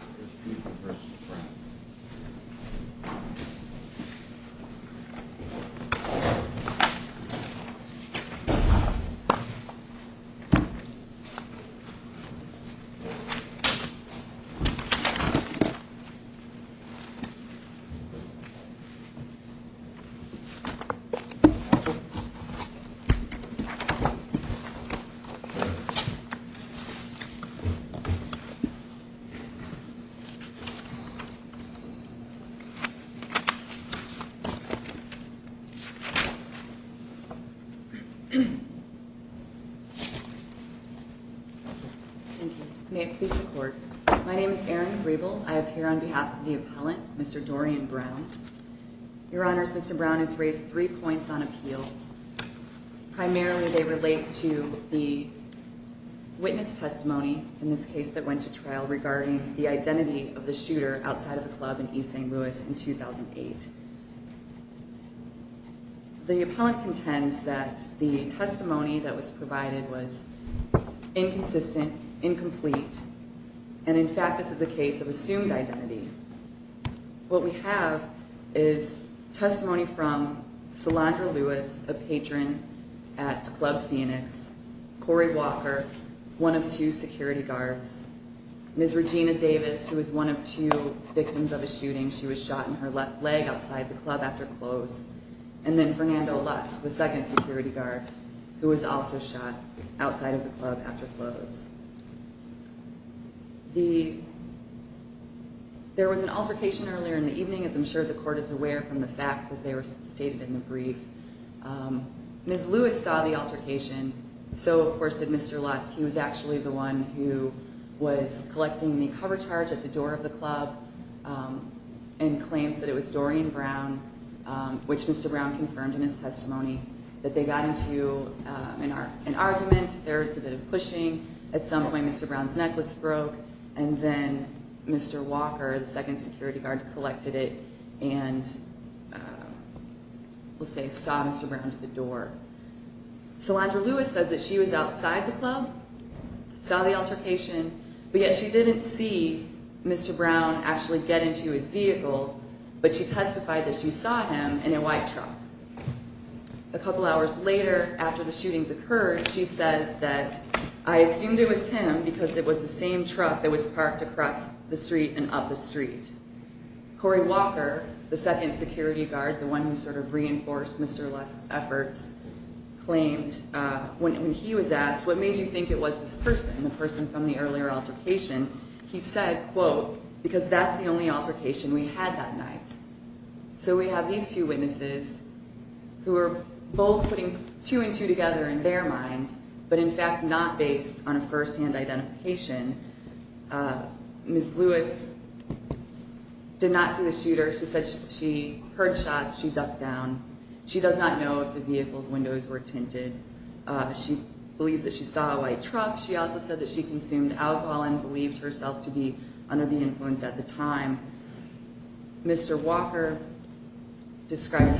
v. Brown May it please the court. My name is Erin Grebel. I appear on behalf of the appellant, Mr. Dorian Brown. Your Honors, Mr. Brown has raised three points on appeal. Primarily they relate to the witness testimony in this case that went to trial regarding the identity of the shooter outside of the club in East St. Louis in 2008. The appellant contends that the testimony that was provided was inconsistent, incomplete and in fact this is a case of assumed identity. What we have is testimony from Celandra Lewis, a patron at Club Phoenix, Corey Walker, one of two security guards, Ms. Regina Davis who was one of two victims of a shooting. She was shot in her left leg outside the club after close. And then Fernando Lutz, the second security guard who was also shot outside of the club after close. There was an altercation earlier in the evening as I'm sure the court is aware from the facts as they were stated in the brief. Ms. Lewis saw the altercation, so of course did Mr. Lutz. He was actually the one who was collecting the cover charge at the door of the club and claims that it was Dorian Brown, which Mr. Brown confirmed in his testimony that they got into an argument, there was a bit of pushing, at some point Mr. Brown's necklace broke and then Mr. Walker, the second security guard, collected it and we'll say saw Mr. Brown at the door. Celandra Lewis says that she was outside the club, saw the altercation, but yet she didn't see Mr. Brown actually get into his vehicle, but she testified that she saw him in a white truck. A couple hours later after the shootings occurred, she says that I assumed it was him because it was the same truck that was parked across the street and up the street. Corey Walker, the second security guard, the one who sort of reinforced Mr. Lutz's efforts, claimed when he was asked what made you think it was this person, the person from the earlier altercation, he said, quote, because that's the only altercation we had that night. So we have these two witnesses who are both putting two and two together in their mind, but in fact not based on a firsthand identification. Ms. Lewis did not see the shooter. She said she heard shots, she ducked down. She does not know if the vehicle's windows were tinted. She believes that she saw a white truck. She also said that she consumed alcohol and believed herself to be under the influence at the time. Mr. Walker, he described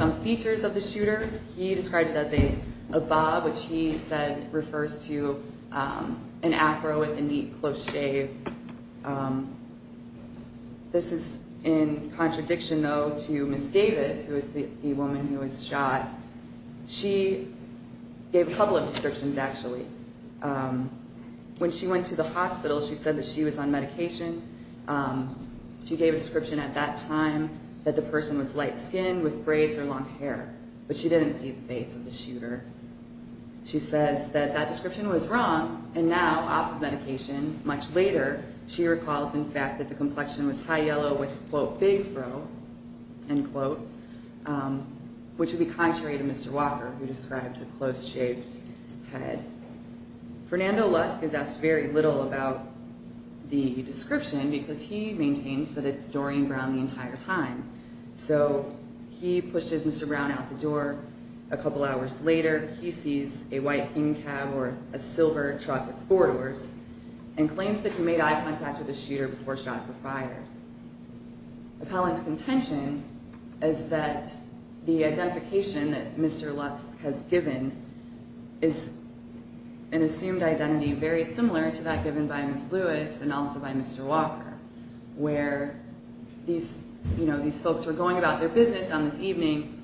it as a bob, which he said refers to an afro with a neat, close shave. This is in contradiction, though, to Ms. Davis, who is the woman who was shot. She gave a couple of descriptions, actually. When she went to the hospital, she said that she was on medication. She gave a description at that time that the person was light-skinned with braids or long hair, but she didn't see the face of the shooter. She says that that description was wrong, and now, off of medication, much later, she recalls, in fact, that the complexion was high yellow with, quote, big fro, end quote, which would be contrary to Mr. Walker, who described a close-shaved head. Fernando Lusk is asked very little about the description because he maintains that it's Dorian Brown the entire time. So he pushes Mr. Brown out the door. A couple hours later, he sees a white king cab or a silver truck with four doors and claims that he made eye contact with the shooter before shots were fired. Appellant's contention is that the identification that Mr. Lusk has given is an assumed identity very similar to that given by Ms. Lewis and also by Mr. Walker, where these folks were going about their business on this evening,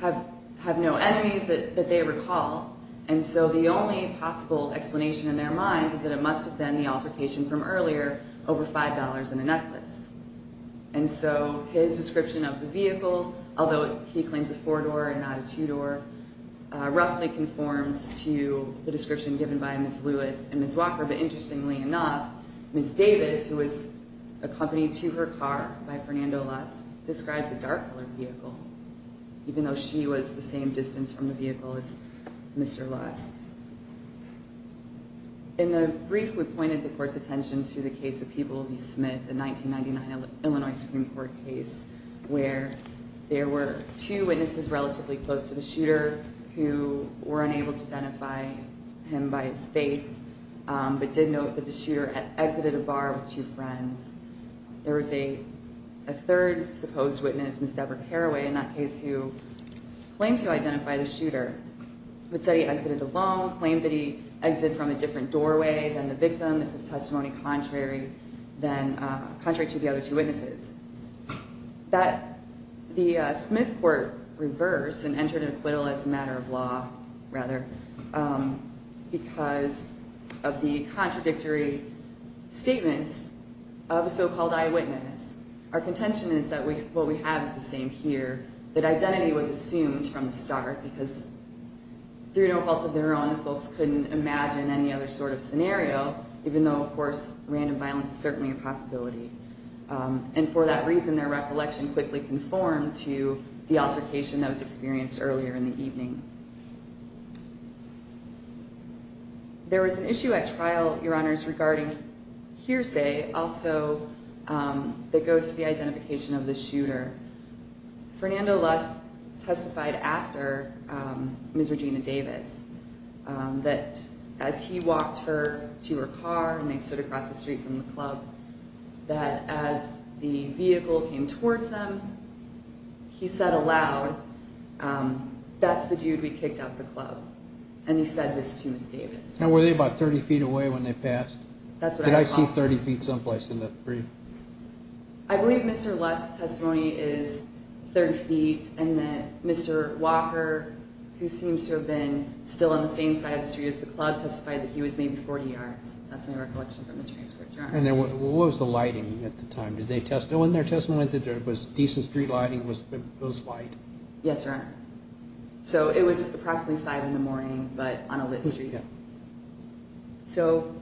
have no enemies that they recall, and so the only possible explanation in their minds is that it must have been the altercation from earlier over $5 and a necklace. And so his description of the vehicle, although he claims a four-door and not a two-door, roughly conforms to the description given by Ms. Lewis and Ms. Walker, but interestingly enough, Ms. Davis, who was accompanied to her car by Fernando Lusk, describes a dark-colored vehicle, even though she was the same distance from the vehicle as Mr. Lusk. In the brief, we pointed the court's attention to the case of People v. Smith, the 1999 Illinois Supreme Court case, where there were two witnesses relatively close to the shooter who were unable to identify him by his face but did note that the shooter exited a bar with two friends. There was a third supposed witness, Ms. Deborah Carraway, in that case, who claimed to identify the shooter, but said he exited alone, claimed that he exited from a different doorway than the victim. This is testimony contrary to the other two witnesses. The Smith court reversed and entered an acquittal as a matter of law, rather, because of the contradictory statements of a so-called eyewitness. Our contention is that what we have is the same here, that identity was assumed from the start because through no fault of their own, the folks couldn't imagine any other sort of scenario, even though, of course, random violence is certainly a possibility. And for that reason, their recollection quickly conformed to the altercation that was experienced earlier in the evening. There was an issue at trial, Your Honors, regarding hearsay also that goes to the identification of the shooter. Fernando Lusk testified after Ms. Regina Davis that as he walked her to her car and they stood across the street from the club, that as the vehicle came towards them, he said aloud, that's the dude we kicked out of the club. And he said this to Ms. Davis. And were they about 30 feet away when they passed? That's what I saw. Did I see 30 feet someplace in the brief? I believe Mr. Lusk's testimony is 30 feet and that Mr. Walker, who seems to have been still on the same side of the street as the club, testified that he was maybe 40 yards. That's my recollection from the transport journal. And what was the lighting at the time? When their testimony was decent street lighting, it was light? Yes, Your Honor. So it was approximately 5 in the morning but on a lit street. So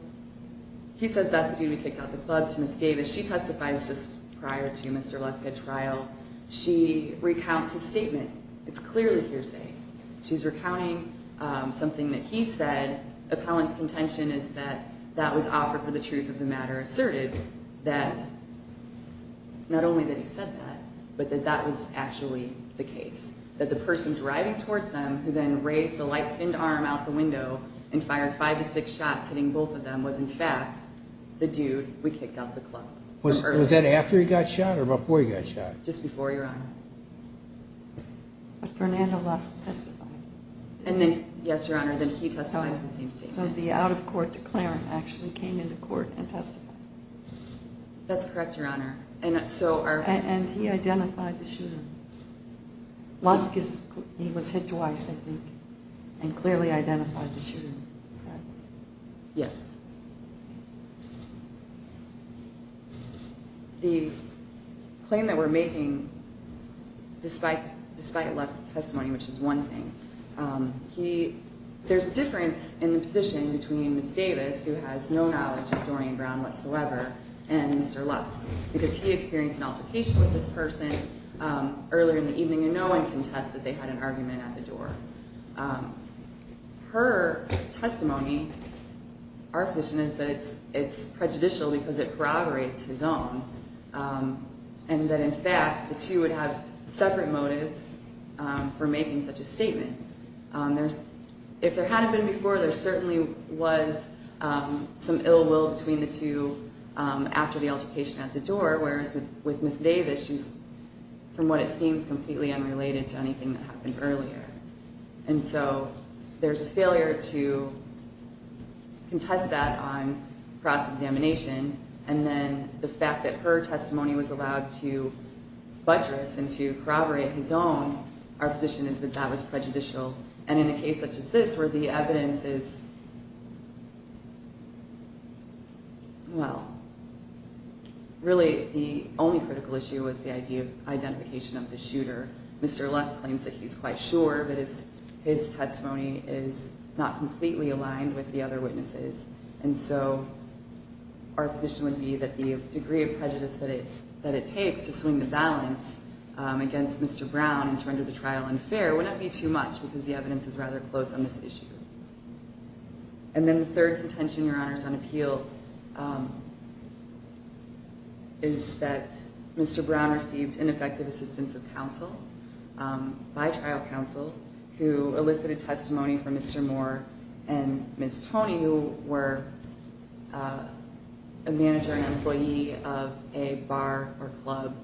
he says that's the dude we kicked out of the club to Ms. Davis. She testifies just prior to Mr. Lusk at trial. She recounts his statement. It's clearly hearsay. She's recounting something that he said. I think that appellant's contention is that that was offered for the truth of the matter, asserted that not only that he said that but that that was actually the case, that the person driving towards them who then raised a light-spinned arm out the window and fired five to six shots hitting both of them was, in fact, the dude we kicked out of the club. Was that after he got shot or before he got shot? Just before, Your Honor. But Fernando Lusk testified. Yes, Your Honor, then he testified to the same statement. So the out-of-court declarant actually came into court and testified. That's correct, Your Honor. And he identified the shooter. Lusk, he was hit twice, I think, and clearly identified the shooter. Yes. The claim that we're making, despite Lusk's testimony, which is one thing, there's a difference in the position between Ms. Davis, who has no knowledge of Dorian Brown whatsoever, and Mr. Lusk because he experienced an altercation with this person earlier in the evening and no one can test that they had an argument at the door. Her testimony, our position is that it's prejudicial because it corroborates his own and that, in fact, the two would have separate motives for making such a statement. If there hadn't been before, there certainly was some ill will between the two after the altercation at the door, whereas with Ms. Davis, she's, from what it seems, completely unrelated to anything that happened earlier. And so there's a failure to contest that on cross-examination, and then the fact that her testimony was allowed to buttress and to corroborate his own, our position is that that was prejudicial. And in a case such as this, where the evidence is, well, really the only critical issue was the idea of identification of the shooter. Mr. Lusk claims that he's quite sure, but his testimony is not completely aligned with the other witnesses, and so our position would be that the degree of prejudice that it takes to swing the balance against Mr. Brown and to render the trial unfair would not be too much because the evidence is rather close on this issue. And then the third contention, Your Honors, on appeal is that Mr. Brown received ineffective assistance of counsel by trial counsel who elicited testimony from Mr. Moore and Ms. Toney, who were a manager and employee of a bar or club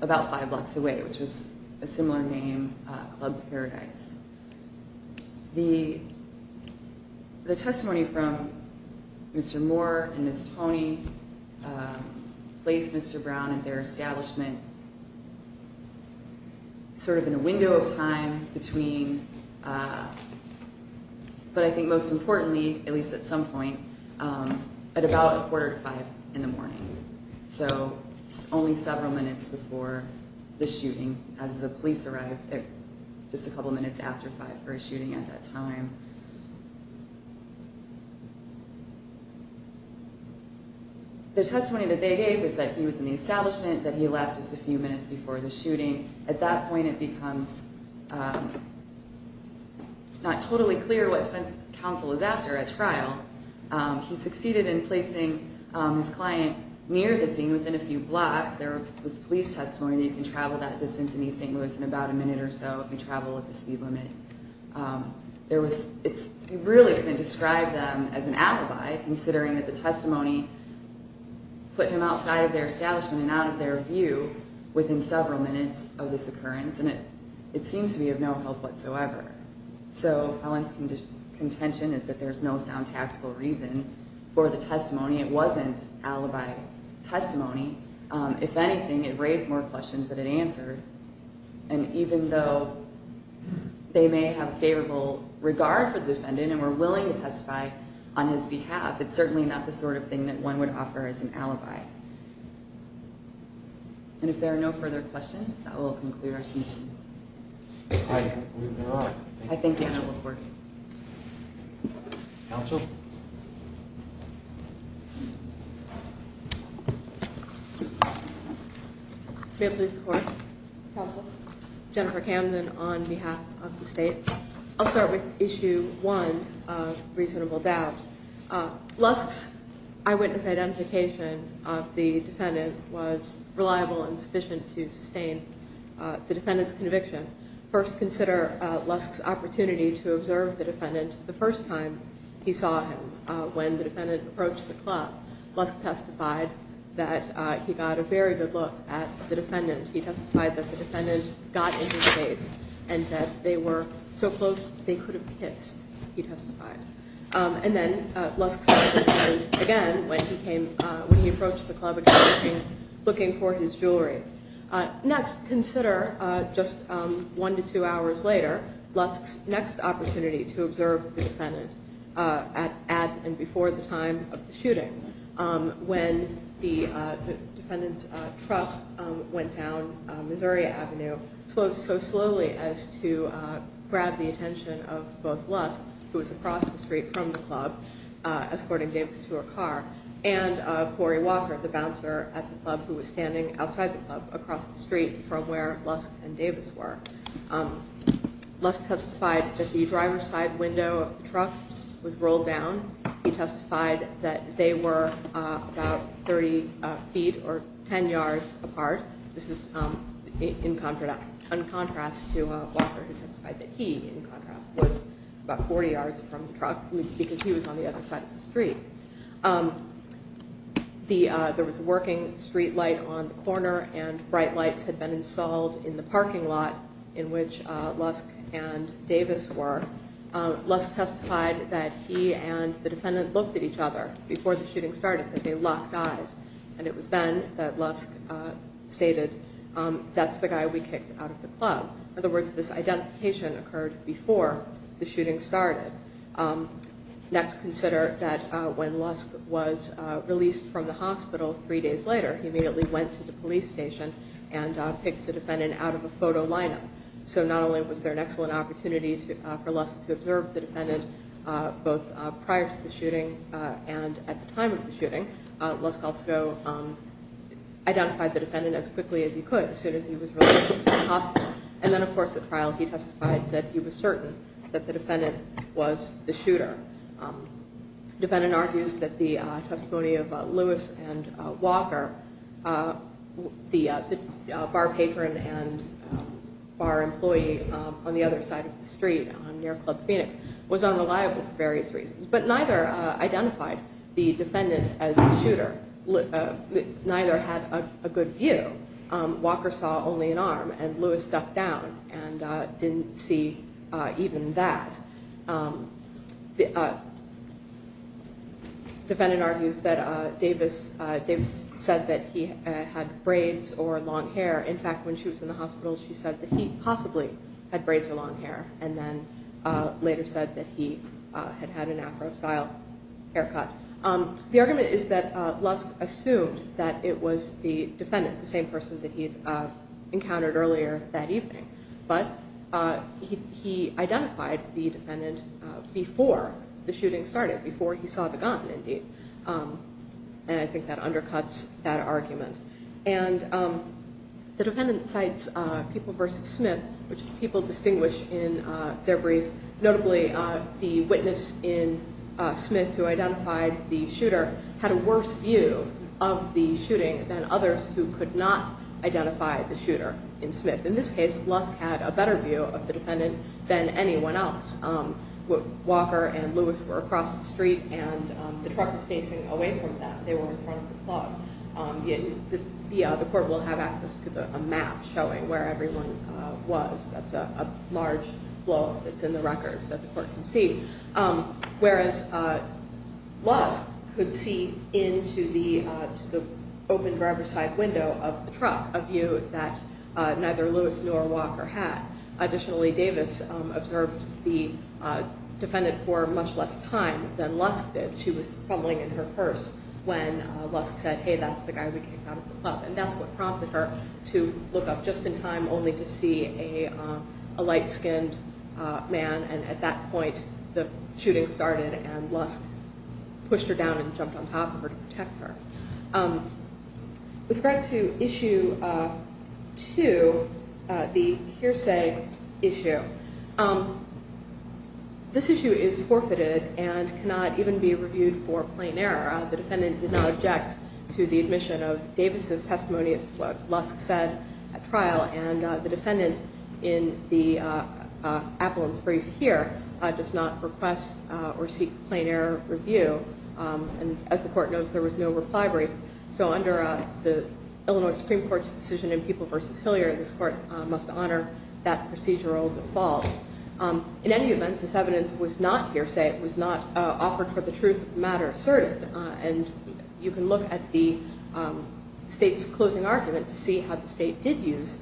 about five blocks away, which was a similar name, Club Paradise. The testimony from Mr. Moore and Ms. Toney placed Mr. Brown and their establishment sort of in a window of time between, but I think most importantly, at least at some point, at about a quarter to five in the morning, so only several minutes before the shooting as the police arrived just a couple minutes after five for a shooting at that time. The testimony that they gave was that he was in the establishment, that he left just a few minutes before the shooting. At that point, it becomes not totally clear what counsel is after at trial. He succeeded in placing his client near the scene within a few blocks. There was police testimony that you can travel that distance in East St. Louis in about a minute or so if you travel at the speed limit. You really can't describe them as an alibi, considering that the testimony put him outside of their establishment and out of their view within several minutes of this occurrence, and it seems to be of no help whatsoever. So Helen's contention is that there's no sound tactical reason for the testimony. It wasn't alibi testimony. If anything, it raised more questions than it answered, and even though they may have favorable regard for the defendant and were willing to testify on his behalf, it's certainly not the sort of thing that one would offer as an alibi. And if there are no further questions, that will conclude our submissions. I believe there are. I think they have a report. Counsel? May I please report? Counsel. Jennifer Camden on behalf of the state. I'll start with issue one of reasonable doubt. Lusk's eyewitness identification of the defendant was reliable and sufficient to sustain the defendant's conviction. First, consider Lusk's opportunity to observe the defendant the first time he saw him. When the defendant approached the club, Lusk testified that he got a very good look at the defendant. He testified that the defendant got into his face and that they were so close they could have kissed. He testified. And then Lusk saw the defendant again when he approached the club again looking for his jewelry. Next, consider just one to two hours later, Lusk's next opportunity to observe the defendant at and before the time of the shooting. When the defendant's truck went down Missouri Avenue so slowly as to grab the attention of both Lusk, who was across the street from the club, escorting Davis to her car, and Corey Walker, the bouncer at the club who was standing outside the club across the street from where Lusk and Davis were. Lusk testified that the driver's side window of the truck was rolled down. He testified that they were about 30 feet or 10 yards apart. This is in contrast to Walker who testified that he, in contrast, was about 40 yards from the truck because he was on the other side of the street. There was a working street light on the corner and bright lights had been installed in the parking lot in which Lusk and Davis were. Lusk testified that he and the defendant looked at each other before the shooting started, that they locked eyes. And it was then that Lusk stated, that's the guy we kicked out of the club. In other words, this identification occurred before the shooting started. Next, consider that when Lusk was released from the hospital three days later, he immediately went to the police station and picked the defendant out of a photo lineup. So not only was there an excellent opportunity for Lusk to observe the defendant both prior to the shooting and at the time of the shooting, Lusk also identified the defendant as quickly as he could as soon as he was released from the hospital. And then, of course, at trial he testified that he was certain that the defendant was the shooter. The defendant argues that the testimony of Lewis and Walker, the bar patron and bar employee on the other side of the street near Club Phoenix, was unreliable for various reasons, but neither identified the defendant as the shooter. Neither had a good view. Walker saw only an arm, and Lewis ducked down and didn't see even that. The defendant argues that Davis said that he had braids or long hair. In fact, when she was in the hospital, she said that he possibly had braids or long hair, and then later said that he had had an Afro-style haircut. The argument is that Lusk assumed that it was the defendant, the same person that he'd encountered earlier that evening. But he identified the defendant before the shooting started, before he saw the gun, indeed. And I think that undercuts that argument. And the defendant cites People v. Smith, which the people distinguish in their brief, notably the witness in Smith who identified the shooter, had a worse view of the shooting than others who could not identify the shooter in Smith. In this case, Lusk had a better view of the defendant than anyone else. Walker and Lewis were across the street, and the truck was facing away from them. They were in front of the club. The court will have access to a map showing where everyone was. That's a large blowup that's in the record that the court can see. Whereas Lusk could see into the open driver's side window of the truck, a view that neither Lewis nor Walker had. Additionally, Davis observed the defendant for much less time than Lusk did. She was fumbling in her purse when Lusk said, hey, that's the guy we kicked out of the club. And that's what prompted her to look up just in time only to see a light-skinned man. And at that point, the shooting started, and Lusk pushed her down and jumped on top of her to protect her. With regard to Issue 2, the hearsay issue, this issue is forfeited and cannot even be reviewed for plain error. The defendant did not object to the admission of Davis' testimony as to what Lusk said at trial. And the defendant in the appellant's brief here does not request or seek plain error review. And as the court knows, there was no reply brief. So under the Illinois Supreme Court's decision in People v. Hilliard, this court must honor that procedural default. In any event, this evidence was not hearsay. It was not offered for the truth of the matter asserted. And you can look at the state's closing argument to see how the state did use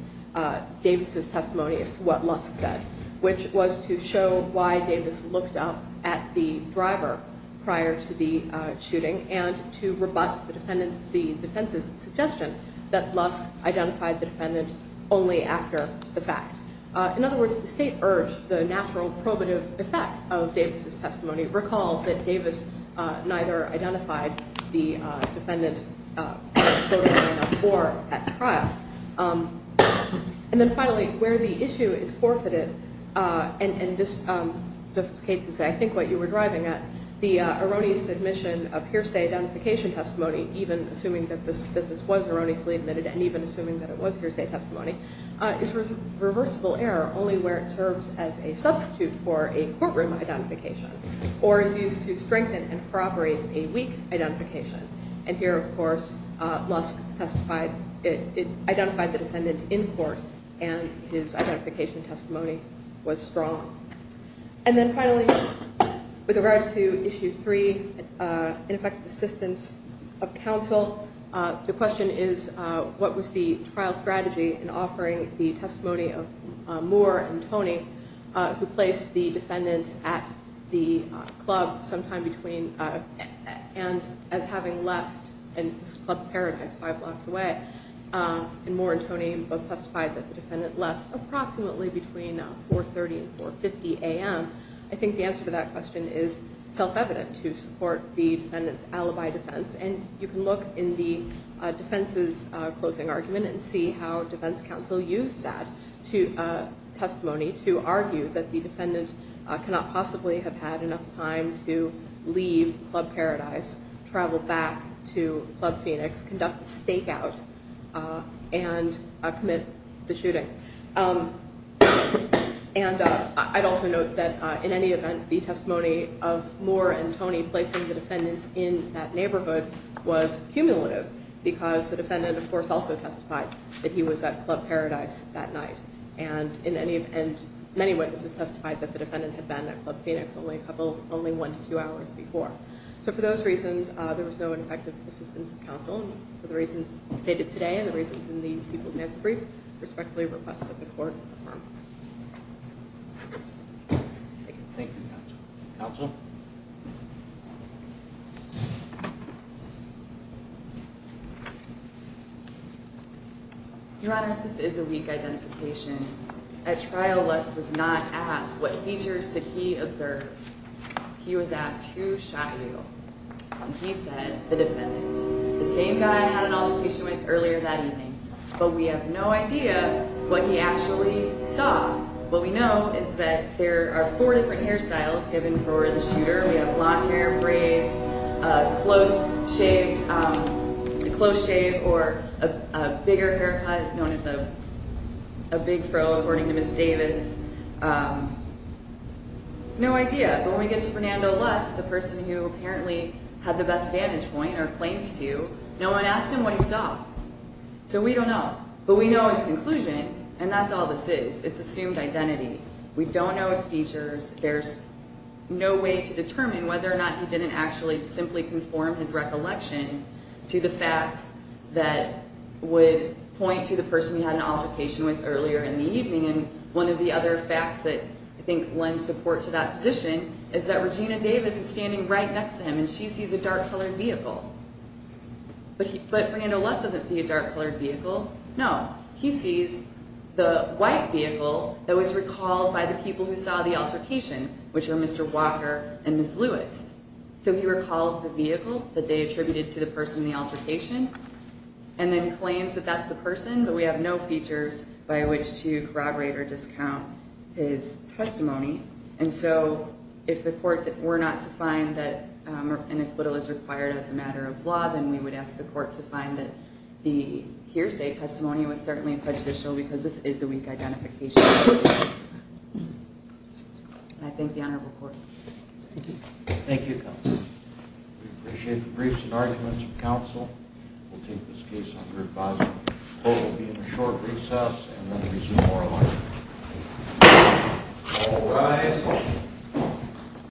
Davis' testimony as to what Lusk said, which was to show why Davis looked up at the driver prior to the shooting and to rebut the defense's suggestion that Lusk identified the defendant only after the fact. In other words, the state urged the natural probative effect of Davis' testimony. Recall that Davis neither identified the defendant prior to or at trial. And then finally, where the issue is forfeited, and this, Justice Cates, is I think what you were driving at, the erroneous admission of hearsay identification testimony, even assuming that this was erroneously admitted and even assuming that it was hearsay testimony, is reversible error only where it serves as a substitute for a courtroom identification or is used to strengthen and corroborate a weak identification. And here, of course, Lusk identified the defendant in court, and his identification testimony was strong. And then finally, with regard to Issue 3, ineffective assistance of counsel, the question is what was the trial strategy in offering the testimony of Moore and Toney, who placed the defendant at the club sometime between and as having left and this club paradise five blocks away. And Moore and Toney both testified that the defendant left approximately between 4.30 and 4.50 a.m. I think the answer to that question is self-evident to support the defendant's alibi defense. And you can look in the defense's closing argument and see how defense counsel used that testimony to argue that the defendant cannot possibly have had enough time to leave Club Paradise, travel back to Club Phoenix, conduct a stakeout, and commit the shooting. And I'd also note that in any event, the testimony of Moore and Toney placing the defendant in that neighborhood was cumulative because the defendant, of course, also testified that he was at Club Paradise that night. And many witnesses testified that the defendant had been at Club Phoenix only one to two hours before. So for those reasons, there was no ineffective assistance of counsel. For the reasons stated today and the reasons in the people's answer brief, I respectfully request that the court confirm. Thank you. Thank you, counsel. Counsel? Your Honors, this is a weak identification. At trial, Les was not asked what features did he observe. He was asked, who shot you? And he said, the defendant. The same guy I had an altercation with earlier that evening. But we have no idea what he actually saw. What we know is that there are four different hairstyles given for the shooter. We have long hair braids, a close shave, or a bigger haircut known as a big fro according to Ms. Davis. No idea. But when we get to Fernando Les, the person who apparently had the best vantage point or claims to, no one asked him what he saw. So we don't know. But we know his conclusion, and that's all this is. It's assumed identity. We don't know his features. There's no way to determine whether or not he didn't actually simply conform his recollection to the facts that would point to the person he had an altercation with earlier in the evening. And one of the other facts that I think lends support to that position is that Regina Davis is standing right next to him, and she sees a dark-colored vehicle. But Fernando Les doesn't see a dark-colored vehicle. No. He sees the white vehicle that was recalled by the people who saw the altercation, which were Mr. Walker and Ms. Lewis. So he recalls the vehicle that they attributed to the person in the altercation and then claims that that's the person. But we have no features by which to corroborate or discount his testimony. And so if the court were not to find that an acquittal is required as a matter of law, then we would ask the court to find that the hearsay testimony was certainly prejudicial because this is a weak identification. And I thank the honorable court. Thank you. Thank you, counsel. We appreciate the briefs and arguments from counsel. We'll take this case under advisory. The court will be in a short recess and then resume oral argument. All rise.